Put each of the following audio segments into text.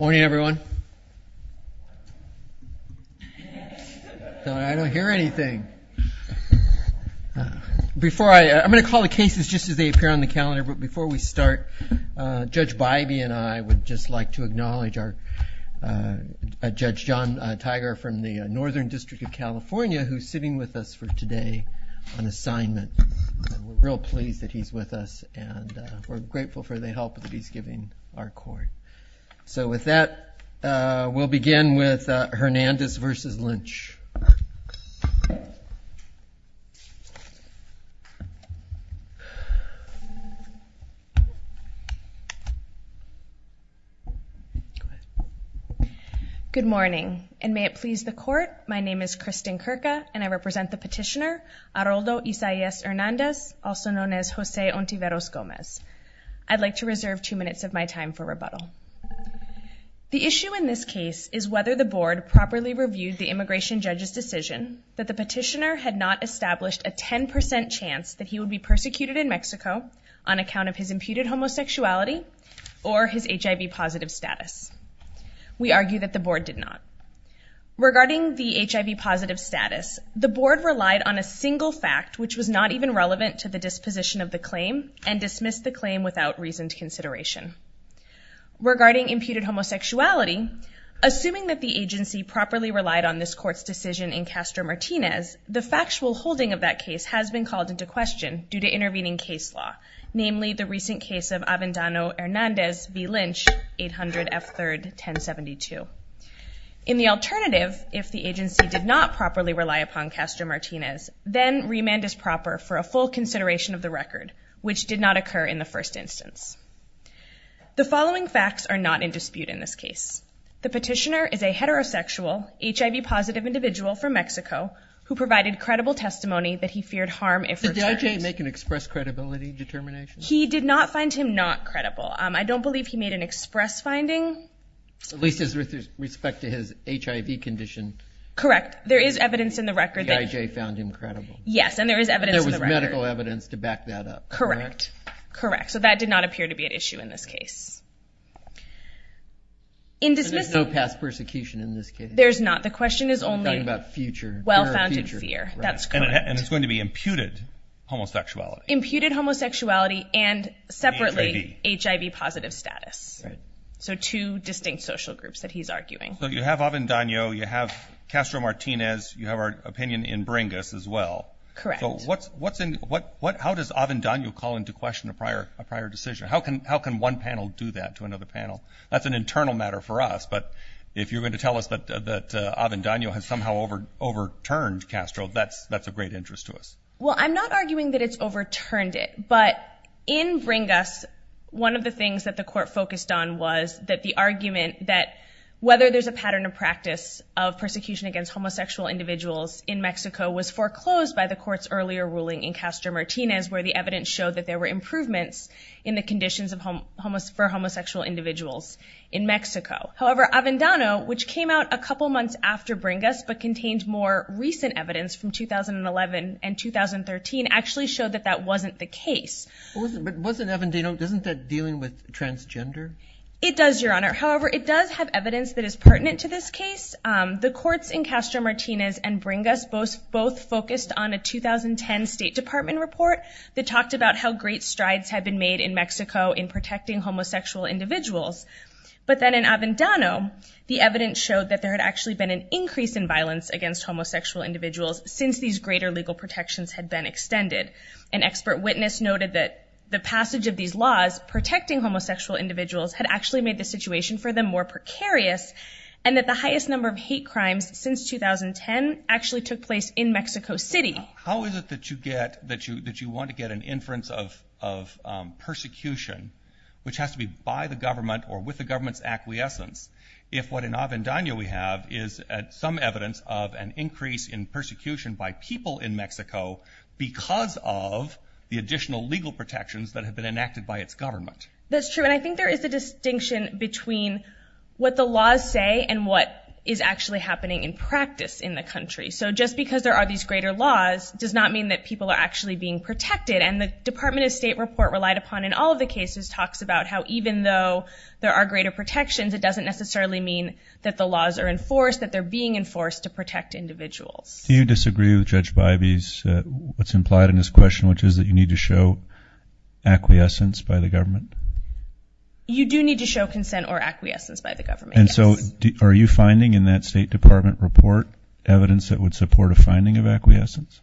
Morning everyone. I don't hear anything. Before I, I'm gonna call the cases just as they appear on the calendar, but before we start, Judge Bybee and I would just like to acknowledge our Judge John Tiger from the Northern District of California who's sitting with us for today on assignment. We're real pleased that he's with us and we're grateful for the help that he's giving our court. So with that, we'll begin with Hernandez v. Lynch. Good morning and may it please the court, my name is Kristen Kirka and I represent the petitioner Aroldo Isaias Hernandez, also known as Jose Ontiveros Gomez. I'd like to reserve two minutes of my time for rebuttal. The issue in this case is whether the board properly reviewed the immigration judge's decision that the petitioner had not established a 10% chance that he would be persecuted in Mexico on account of his imputed homosexuality or his HIV positive status. We argue that the board did not. Regarding the HIV positive status, the board relied on a single fact which was not even relevant to the disposition of the claim and dismissed the claim without reasoned consideration. Regarding imputed homosexuality, assuming that the agency properly relied on this court's decision in Castro-Martinez, the factual holding of that case has been called into question due to intervening case law, namely the recent case of Avendano-Hernandez v. Lynch, 800 F. 3rd 1072. In the alternative, if the agency did not properly rely upon Castro-Martinez, then remand is proper for a full consideration of the record, which did not occur in the first instance. The following facts are not in dispute in this case. The petitioner is a heterosexual, HIV positive individual from Mexico who provided credible testimony that he feared harm if returned. Did the judge make an express credibility determination? He did not find him not credible. I don't believe he made an express finding. At least with respect to his HIV condition. Correct. There is evidence in the record that... The IJ found him credible. Yes, and there is evidence in the record. There was medical evidence to back that up. Correct. Correct. So that did not appear to be an issue in this case. There's no past persecution in this case. There's not. The question is only about future, well-founded fear. That's correct. And it's going to be imputed homosexuality. Imputed homosexuality and separately HIV positive status. So two distinct social groups that he's arguing. So you have Avendaño, you have Castro-Martinez, you have our opinion in Bringus as well. Correct. So what's, what's in, what, what, how does Avendaño call into question a prior, a prior decision? How can, how can one panel do that to another panel? That's an internal matter for us, but if you're going to tell us that, that Avendaño has somehow overturned Castro, that's, that's a great interest to us. Well, I'm not arguing that it's overturned it, but in Bringus, one of the things that the court focused on was that the argument that whether there's a pattern of practice of persecution against homosexual individuals in Mexico was foreclosed by the court's earlier ruling in Castro-Martinez, where the evidence showed that there were improvements in the conditions of homo, for homosexual individuals in Mexico. However, Avendaño, which came out a couple months after Bringus, but contained more recent evidence from 2011 and 2013, actually showed that that wasn't the case. But wasn't, but wasn't Avendaño, isn't that dealing with transgender? It does, Your Honor. However, it does have evidence that is pertinent to this case. The courts in Castro-Martinez and Bringus both, both focused on a 2010 State Department report that talked about how great strides had been made in Mexico in protecting homosexual individuals. But then in Avendaño, the evidence showed that there had actually been an increase in violence against homosexual individuals since these greater legal protections had been extended. An expert witness noted that the passage of these laws protecting homosexual individuals had actually made the situation for them more precarious, and that the highest number of hate crimes since 2010 actually took place in Mexico City. How is it that you get, that you, that you want to get an inference of, of persecution, which has to be by the government or with the government's acquiescence, if what in Avendaño we have is some evidence of an increase in persecution by people in Mexico because of the additional legal protections that have been enacted by its government? That's true, and I think there is a distinction between what the laws say and what is actually happening in practice in the country. So just because there are these greater laws does not mean that people are actually being protected. And the Department of State report relied upon in all of the cases talks about how even though there are greater protections, it doesn't necessarily mean that the laws are enforced, that they're being enforced to protect individuals. Do you disagree with Judge Bybee's, what's implied in his question, which is that you need to show acquiescence by the government? You do need to show consent or acquiescence by the government. And so are you finding in that State Department report evidence that would support a finding of acquiescence?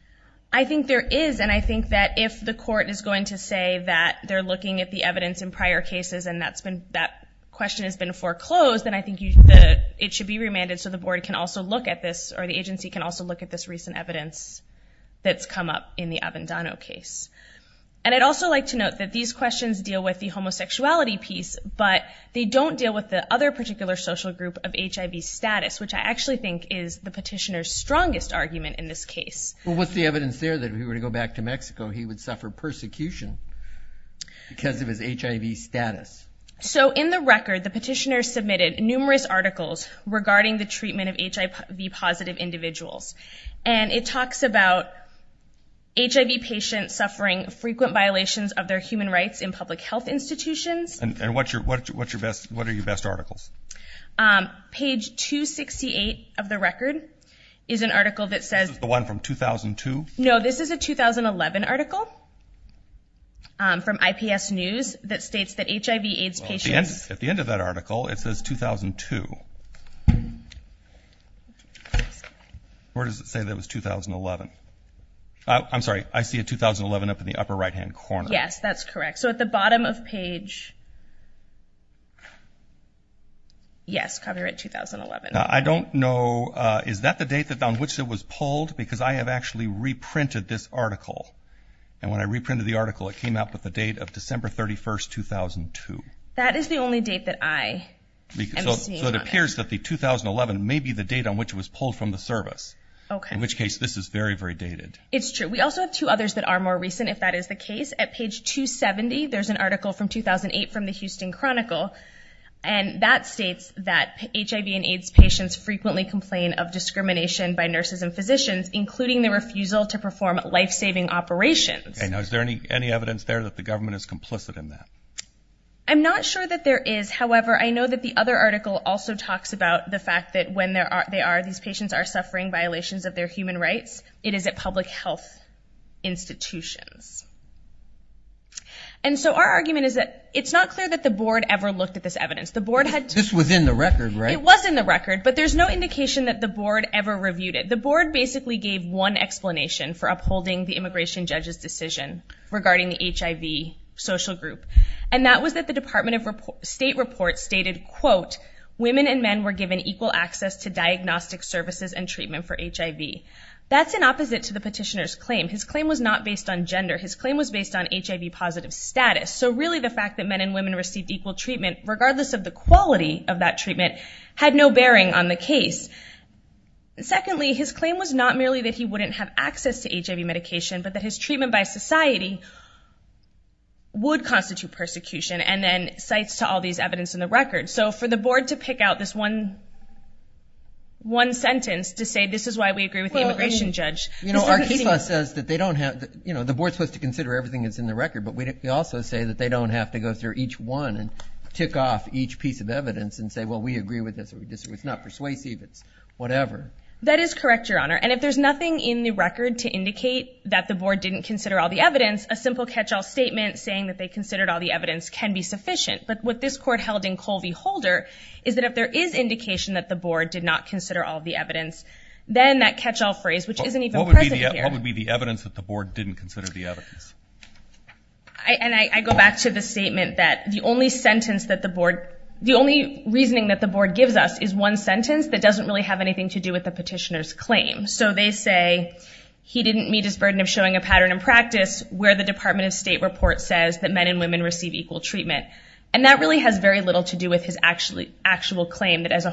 I think there is, and I think that if the court is going to say that they're looking at the evidence in prior cases and that's been, that question has been foreclosed, then I think it should be remanded so the board can also look at this, or the agency can also look at this recent evidence that's come up in the Avendano case. And I'd also like to note that these questions deal with the homosexuality piece, but they don't deal with the other particular social group of HIV status, which I actually think is the petitioner's strongest argument in this case. Well what's the evidence there that if he were to go back to Mexico he would suffer persecution because of his HIV status? So in the record the petitioner submitted numerous articles regarding the treatment of HIV positive individuals. And it talks about HIV patients suffering frequent violations of their human rights in public health institutions. And what's your, what's your best, what are your best articles? Page 268 of the record is an article that says... The one from 2002? No, this is a 2011 article from IPS News that states that HIV AIDS patients... At the end of that article it says 2002. Where does it say that was 2011? I'm sorry, I see a 2011 up in the upper right hand corner. Yes, that's correct. So at the bottom of page... Yes, copyright 2011. Now I don't know, is that the date that on which it was pulled? Because I have actually reprinted this article. And when I reprinted the article it came out with the date of December 31st, 2002. That is the only date that I... So it appears that the 2011 may be the date on which it was pulled from the service. Okay. In which case this is very, very dated. It's true. We also have two others that are more recent if that is the case. At page 270 there's an article from 2008 from the Houston Chronicle. And that states that HIV and AIDS patients frequently complain of discrimination by nurses and physicians, including the refusal to perform life-saving operations. Okay, now is there any any evidence there that the government is complicit in that? I'm not sure that there is. However, I know that the other article also talks about the fact that when these patients are suffering violations of their human rights, it is at public health institutions. And so our argument is that it's not clear that the board ever looked at this evidence. The board had... This was in the record, right? It was in the record, but there's no indication that the board ever reviewed it. The board basically gave one explanation for upholding the immigration judge's decision regarding the HIV social group. And that was that the Department of State report stated, quote, women and men were given equal access to diagnostic services and treatment for HIV. That's an opposite to the petitioner's claim. His claim was not based on gender. His claim was based on HIV positive status. So really the fact that men and women received equal treatment, regardless of the quality of that treatment, had no bearing on the case. Secondly, his claim was not merely that he wouldn't have access to HIV medication, but that his treatment by persecution. And then cites to all these evidence in the record. So for the board to pick out this one sentence to say this is why we agree with the immigration judge... You know, our case law says that they don't have... You know, the board's supposed to consider everything that's in the record, but we also say that they don't have to go through each one and tick off each piece of evidence and say, well, we agree with this or we disagree. It's not persuasive. It's whatever. That is correct, Your Honor. And if there's nothing in the record to indicate that the board didn't consider all the evidence, a simple catch-all statement saying that they considered all the evidence can be sufficient. But what this court held in Colvie-Holder is that if there is indication that the board did not consider all the evidence, then that catch-all phrase, which isn't even present here... What would be the evidence that the board didn't consider the evidence? I go back to the statement that the only sentence that the board... The only reasoning that the board gives us is one sentence that doesn't really have anything to do with the petitioner's claim. So they say he didn't meet his burden of showing a pattern in practice where the Department of State reports says that men and women receive equal treatment. And that really has very little to do with his actual claim that as a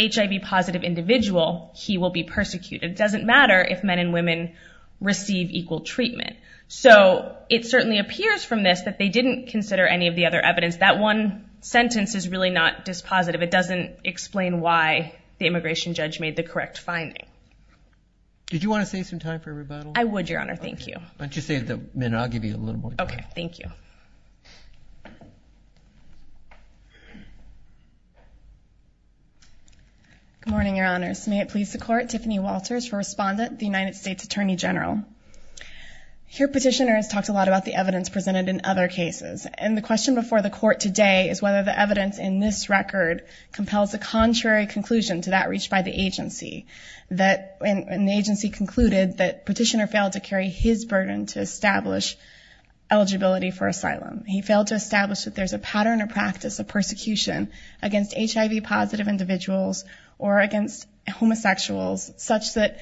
HIV-positive individual, he will be persecuted. It doesn't matter if men and women receive equal treatment. So it certainly appears from this that they didn't consider any of the other evidence. That one sentence is really not dispositive. It doesn't explain why the immigration judge made the correct finding. Did you want to save some time for rebuttal? I would, Your Honor. Thank you. Why don't you save the minute? I'll give you a little more time. Okay, thank you. Good morning, Your Honors. May it please the Court, Tiffany Walters for Respondent, the United States Attorney General. Here petitioners talked a lot about the evidence presented in other cases. And the question before the Court today is whether the evidence in this record compels a contrary conclusion to that reached by the agency. That an agency concluded that petitioner failed to establish eligibility for asylum. He failed to establish that there's a pattern or practice of persecution against HIV-positive individuals or against homosexuals such that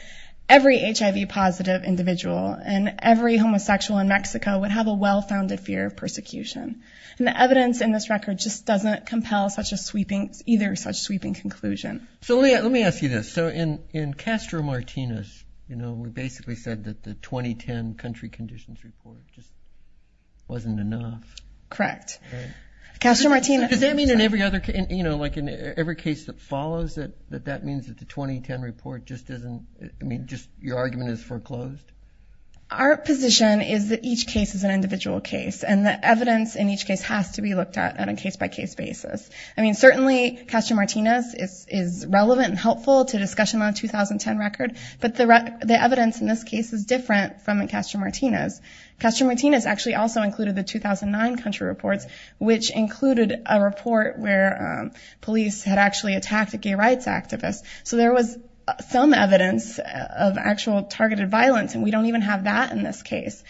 every HIV-positive individual and every homosexual in Mexico would have a well-founded fear of persecution. And the evidence in this record just doesn't compel either such sweeping conclusion. So, Leah, let me ask you this. So in Castro-Martinez, we basically said that the 2010 Country Conditions Report just wasn't enough. Correct. Castro-Martinez... Does that mean in every other case, you know, like in every case that follows it, that that means that the 2010 report just isn't, I mean, just your argument is foreclosed? Our position is that each case is an individual case. And the evidence in each case has to be looked at on a case-by-case basis. I mean, certainly Castro-Martinez is relevant and helpful to discussion on a 2010 record. But the evidence in this case is different from in Castro-Martinez. Castro-Martinez actually also included the 2009 country reports, which included a report where police had actually attacked a gay rights activist. So there was some evidence of actual targeted violence, and we don't even have that in this case.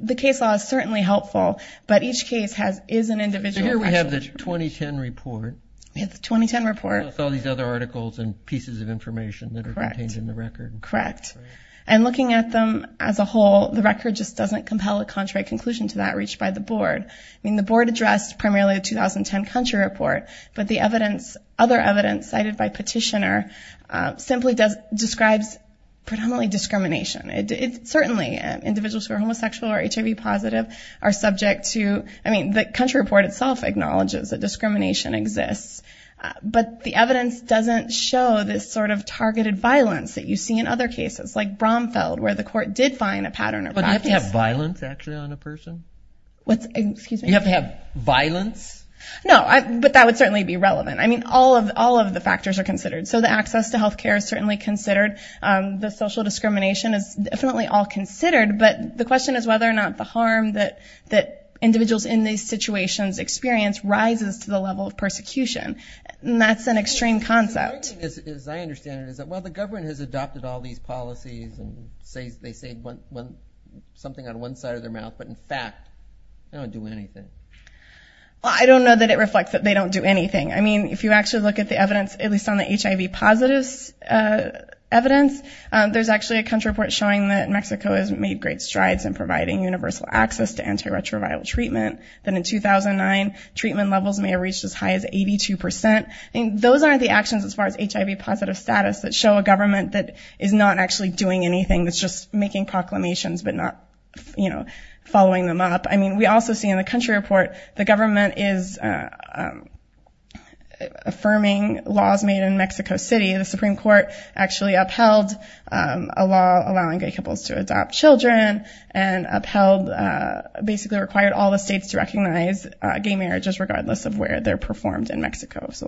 The case law is certainly helpful, but each case has, is an individual... So here we have the 2010 report. We have the 2010 report. With all these other articles and pieces of information that are contained in the record. Correct. And looking at them as a whole, the record just doesn't compel a contrary conclusion to that reached by the board. I mean, the board addressed primarily the 2010 country report, but the evidence, other evidence cited by petitioner, simply does, describes predominantly discrimination. It, it, certainly individuals who are homosexual or HIV positive are subject to, I mean, the country report itself acknowledges that discrimination exists. But the other cases, like Bromfeld, where the court did find a pattern of... But you have to have violence, actually, on a person? What's, excuse me? You have to have violence? No, but that would certainly be relevant. I mean, all of, all of the factors are considered. So the access to health care is certainly considered. The social discrimination is definitely all considered, but the question is whether or not the harm that, that individuals in these situations experience rises to the level of persecution. And that's an extreme concept. My point is, as I understand it, is that, well, the government has adopted all these policies and say, they say one, one, something out of one side of their mouth, but in fact, they don't do anything. Well, I don't know that it reflects that they don't do anything. I mean, if you actually look at the evidence, at least on the HIV positives evidence, there's actually a country report showing that Mexico has made great strides in providing universal access to antiretroviral treatment, that in 2009, treatment levels may have reached as high as 82 percent. I mean, those aren't the actions as far as HIV positive status that show a government that is not actually doing anything, that's just making proclamations but not, you know, following them up. I mean, we also see in the country report, the government is affirming laws made in Mexico City. The Supreme Court actually upheld a law allowing gay couples to adopt children and upheld, basically required all the states to recognize gay marriages regardless of where they're performed in Mexico City.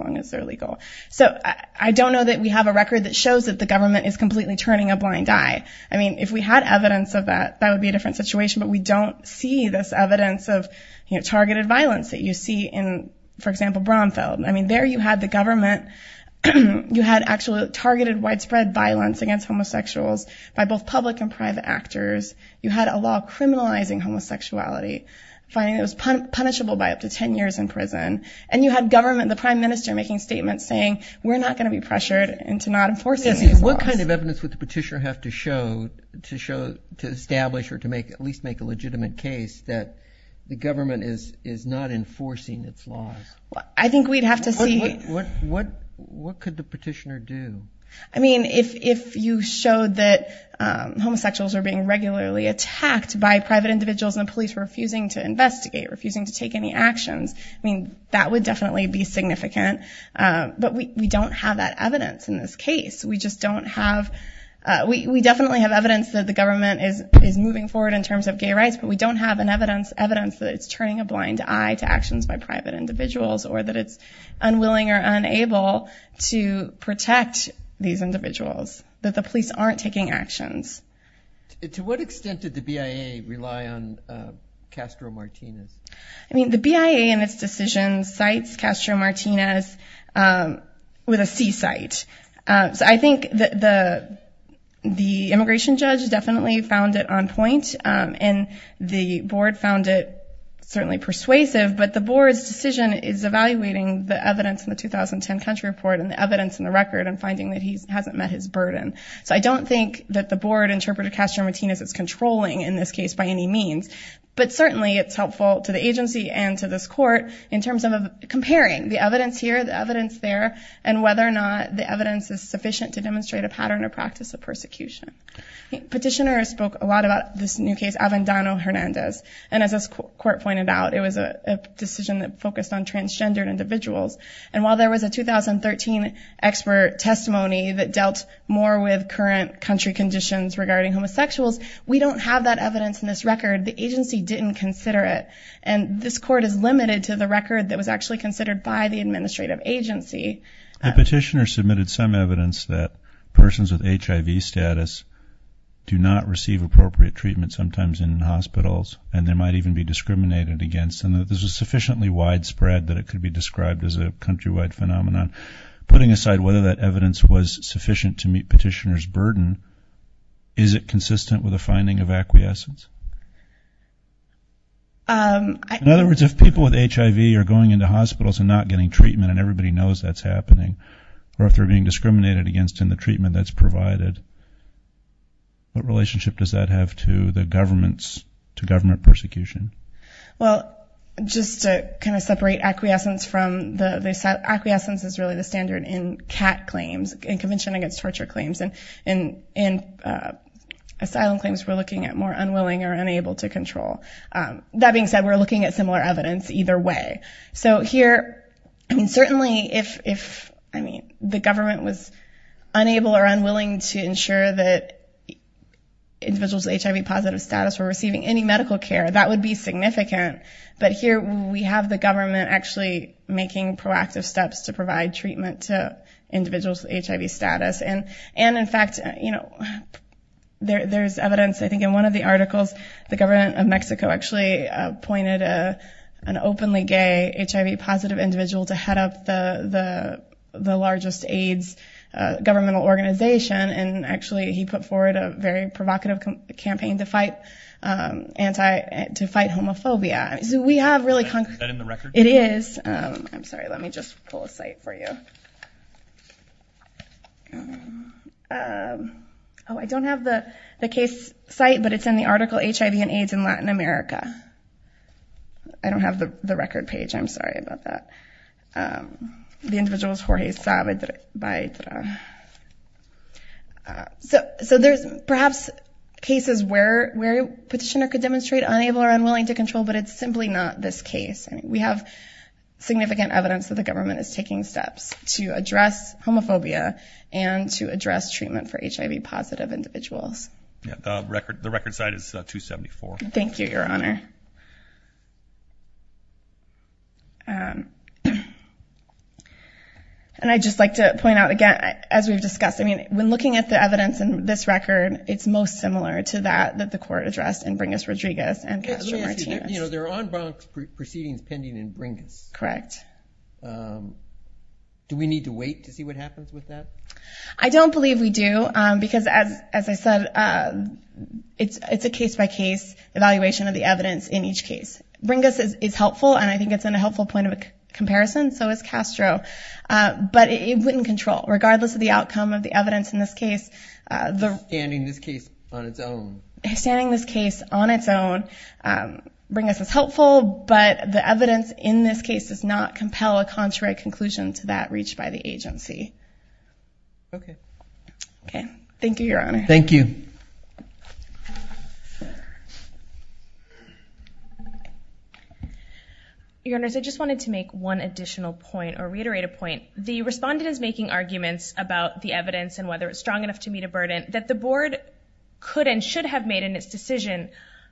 So I don't know that we have a record that shows that the government is completely turning a blind eye. I mean, if we had evidence of that, that would be a different situation, but we don't see this evidence of targeted violence that you see in, for example, Bromfield. I mean, there you had the government, you had actually targeted widespread violence against homosexuals by both public and private actors. You had a law criminalizing homosexuality, finding it was punishable by up to 10 years in prison. And you had government, the prime minister making statements saying, we're not going to be pressured into not enforcing these laws. What kind of evidence would the petitioner have to show to establish or to at least make a legitimate case that the government is not enforcing its laws? I think we'd have to see. What could the petitioner do? I mean, if you showed that homosexuals are being regularly attacked by private individuals and the police are refusing to investigate, refusing to take any action, that would definitely be significant. But we don't have that evidence in this case. We just don't have, we definitely have evidence that the government is moving forward in terms of gay rights, but we don't have evidence that it's turning a blind eye to actions by private individuals or that it's unwilling or unable to protect these individuals, that the police aren't taking actions. To what extent did the BIA rely on Castro Martinez? I mean, the BIA in its decision cites Castro Martinez with a seasight. So I think the immigration judge definitely found it on point and the board found it certainly persuasive, but the board's decision is evaluating the evidence in the 2010 country report and the evidence in the record and finding that he hasn't met his burden. So I don't think that the board interpreted Castro Martinez as controlling in this case by any means, but certainly it's helpful to the agency and to this court in terms of comparing the evidence here, the evidence there, and whether or not the evidence is sufficient to demonstrate a pattern or practice of persecution. Petitioners spoke a lot about this new case, Avendano-Hernandez, and as this court pointed out, it was a decision that focused on transgendered individuals. And while there was a 2013 expert testimony that dealt more with current country conditions regarding homosexuals, we don't have that evidence in this record. The agency didn't consider it. And this court is limited to the record that was actually considered by the administrative agency. The petitioner submitted some evidence that persons with HIV status do not receive appropriate treatment, sometimes in hospitals, and they might even be discriminated against. And this was sufficiently widespread that it could be described as a countrywide phenomenon. Putting aside whether that evidence was sufficient to meet petitioner's burden, is it consistent with the finding of acquiescence? In other words, if people with HIV are going into hospitals and not getting treatment, and everybody knows that's happening, or if they're being discriminated against in the treatment that's provided, what relationship does that have to the government's, to government persecution? Well, just to kind of separate acquiescence from the, acquiescence is really the standard in CAT claims, Convention Against Torture claims. And in asylum claims, we're looking at more unwilling or unable to control. That being said, we're looking at similar evidence either way. So here, certainly if, I mean, the government was unable or unwilling to ensure that individuals with HIV positive status were receiving any medical care, that would be significant. But here, we have the government actually making proactive steps to provide treatment to individuals with HIV status. And in fact, you know, there's evidence, I think in one of the articles, the government of Mexico actually appointed an openly gay HIV positive individual to head up the largest AIDS governmental organization, and actually he put forward a very provocative campaign to fight anti, to fight homophobia. So we have really concrete. Is that in the record? It is. I'm sorry, let me just pull a site for you. Oh, I don't have the case site, but it's in the article, HIV and AIDS in Latin America. I don't have the record page. I'm sorry about that. The individual is Jorge Saavedra. So there's perhaps cases where a petitioner could demonstrate unable or unwilling to control, but it's simply not this case. We have significant evidence that the government is taking steps to address homophobia and to address treatment for HIV positive individuals. The record site is 274. Thank you, Your Honor. And I'd just like to point out again, as we've discussed, I mean, when looking at the evidence in this record, it's most similar to that that the court addressed in Bringas-Rodriguez and Castro-Martinez. You know, there are en banc proceedings pending in Bringas. Correct. Do we need to wait to see what happens with that? I don't believe we do because, as I said, it's a case-by-case. It's a case-by-case evaluation of the evidence in each case. Bringas is helpful, and I think it's in a helpful point of comparison, so is Castro. But it wouldn't control, regardless of the outcome of the evidence in this case. Standing this case on its own. Standing this case on its own, Bringas is helpful, but the evidence in this case does not compel a contrary conclusion to that reached by the agency. Okay. Okay. Thank you, Your Honor. Thank you. Your Honors, I just wanted to make one additional point, or reiterate a point. The respondent is making arguments about the evidence and whether it's strong enough to meet a burden that the board could and should have made in its decision,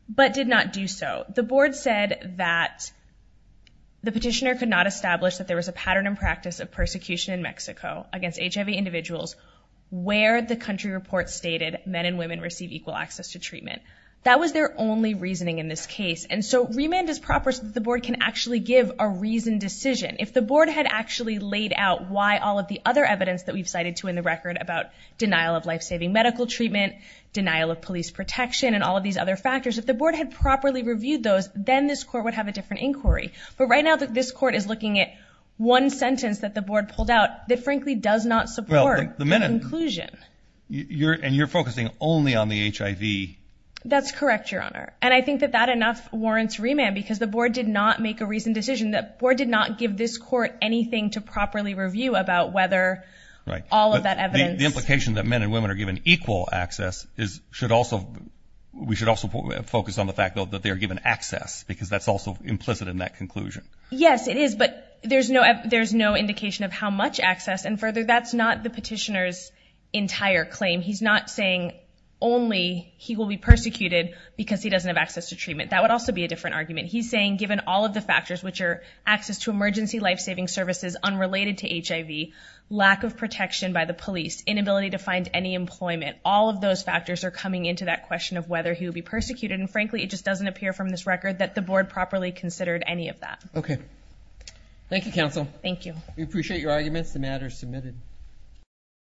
but did not do so. The board said that the petitioner could not establish that there was a pattern in practice of persecution in Mexico against HIV individuals where the country report stated men and women receive equal access to treatment. That was their only reasoning in this case. And so remand is proper so that the board can actually give a reasoned decision. If the board had actually laid out why all of the other evidence that we've cited to in the record about denial of life-saving medical treatment, denial of police protection, and all of these other factors, if the board had properly reviewed those, then this court would have a different inquiry. But right now this court is looking at one sentence that the board pulled out that frankly does not support the conclusion. And you're focusing only on the HIV. That's correct, Your Honor. And I think that that enough warrants remand because the board did not make a reasoned decision. The board did not give this court anything to properly review about whether all of that evidence. The implication that men and women are given equal access should also, we should also focus on the fact, though, that they are given access because that's also implicit in that conclusion. Yes, it is, but there's no indication of how much access. And further, that's not the petitioner's entire claim. He's not saying only he will be persecuted because he doesn't have access to treatment. That would also be a different argument. He's saying given all of the factors, which are access to emergency life-saving services unrelated to HIV, lack of protection by the police, inability to find any employment, all of those factors are coming into that question of whether he will be persecuted. And frankly, it just doesn't appear from this record that the board properly considered any of that. Okay. Thank you, counsel. Thank you. We appreciate your arguments. The matter is submitted.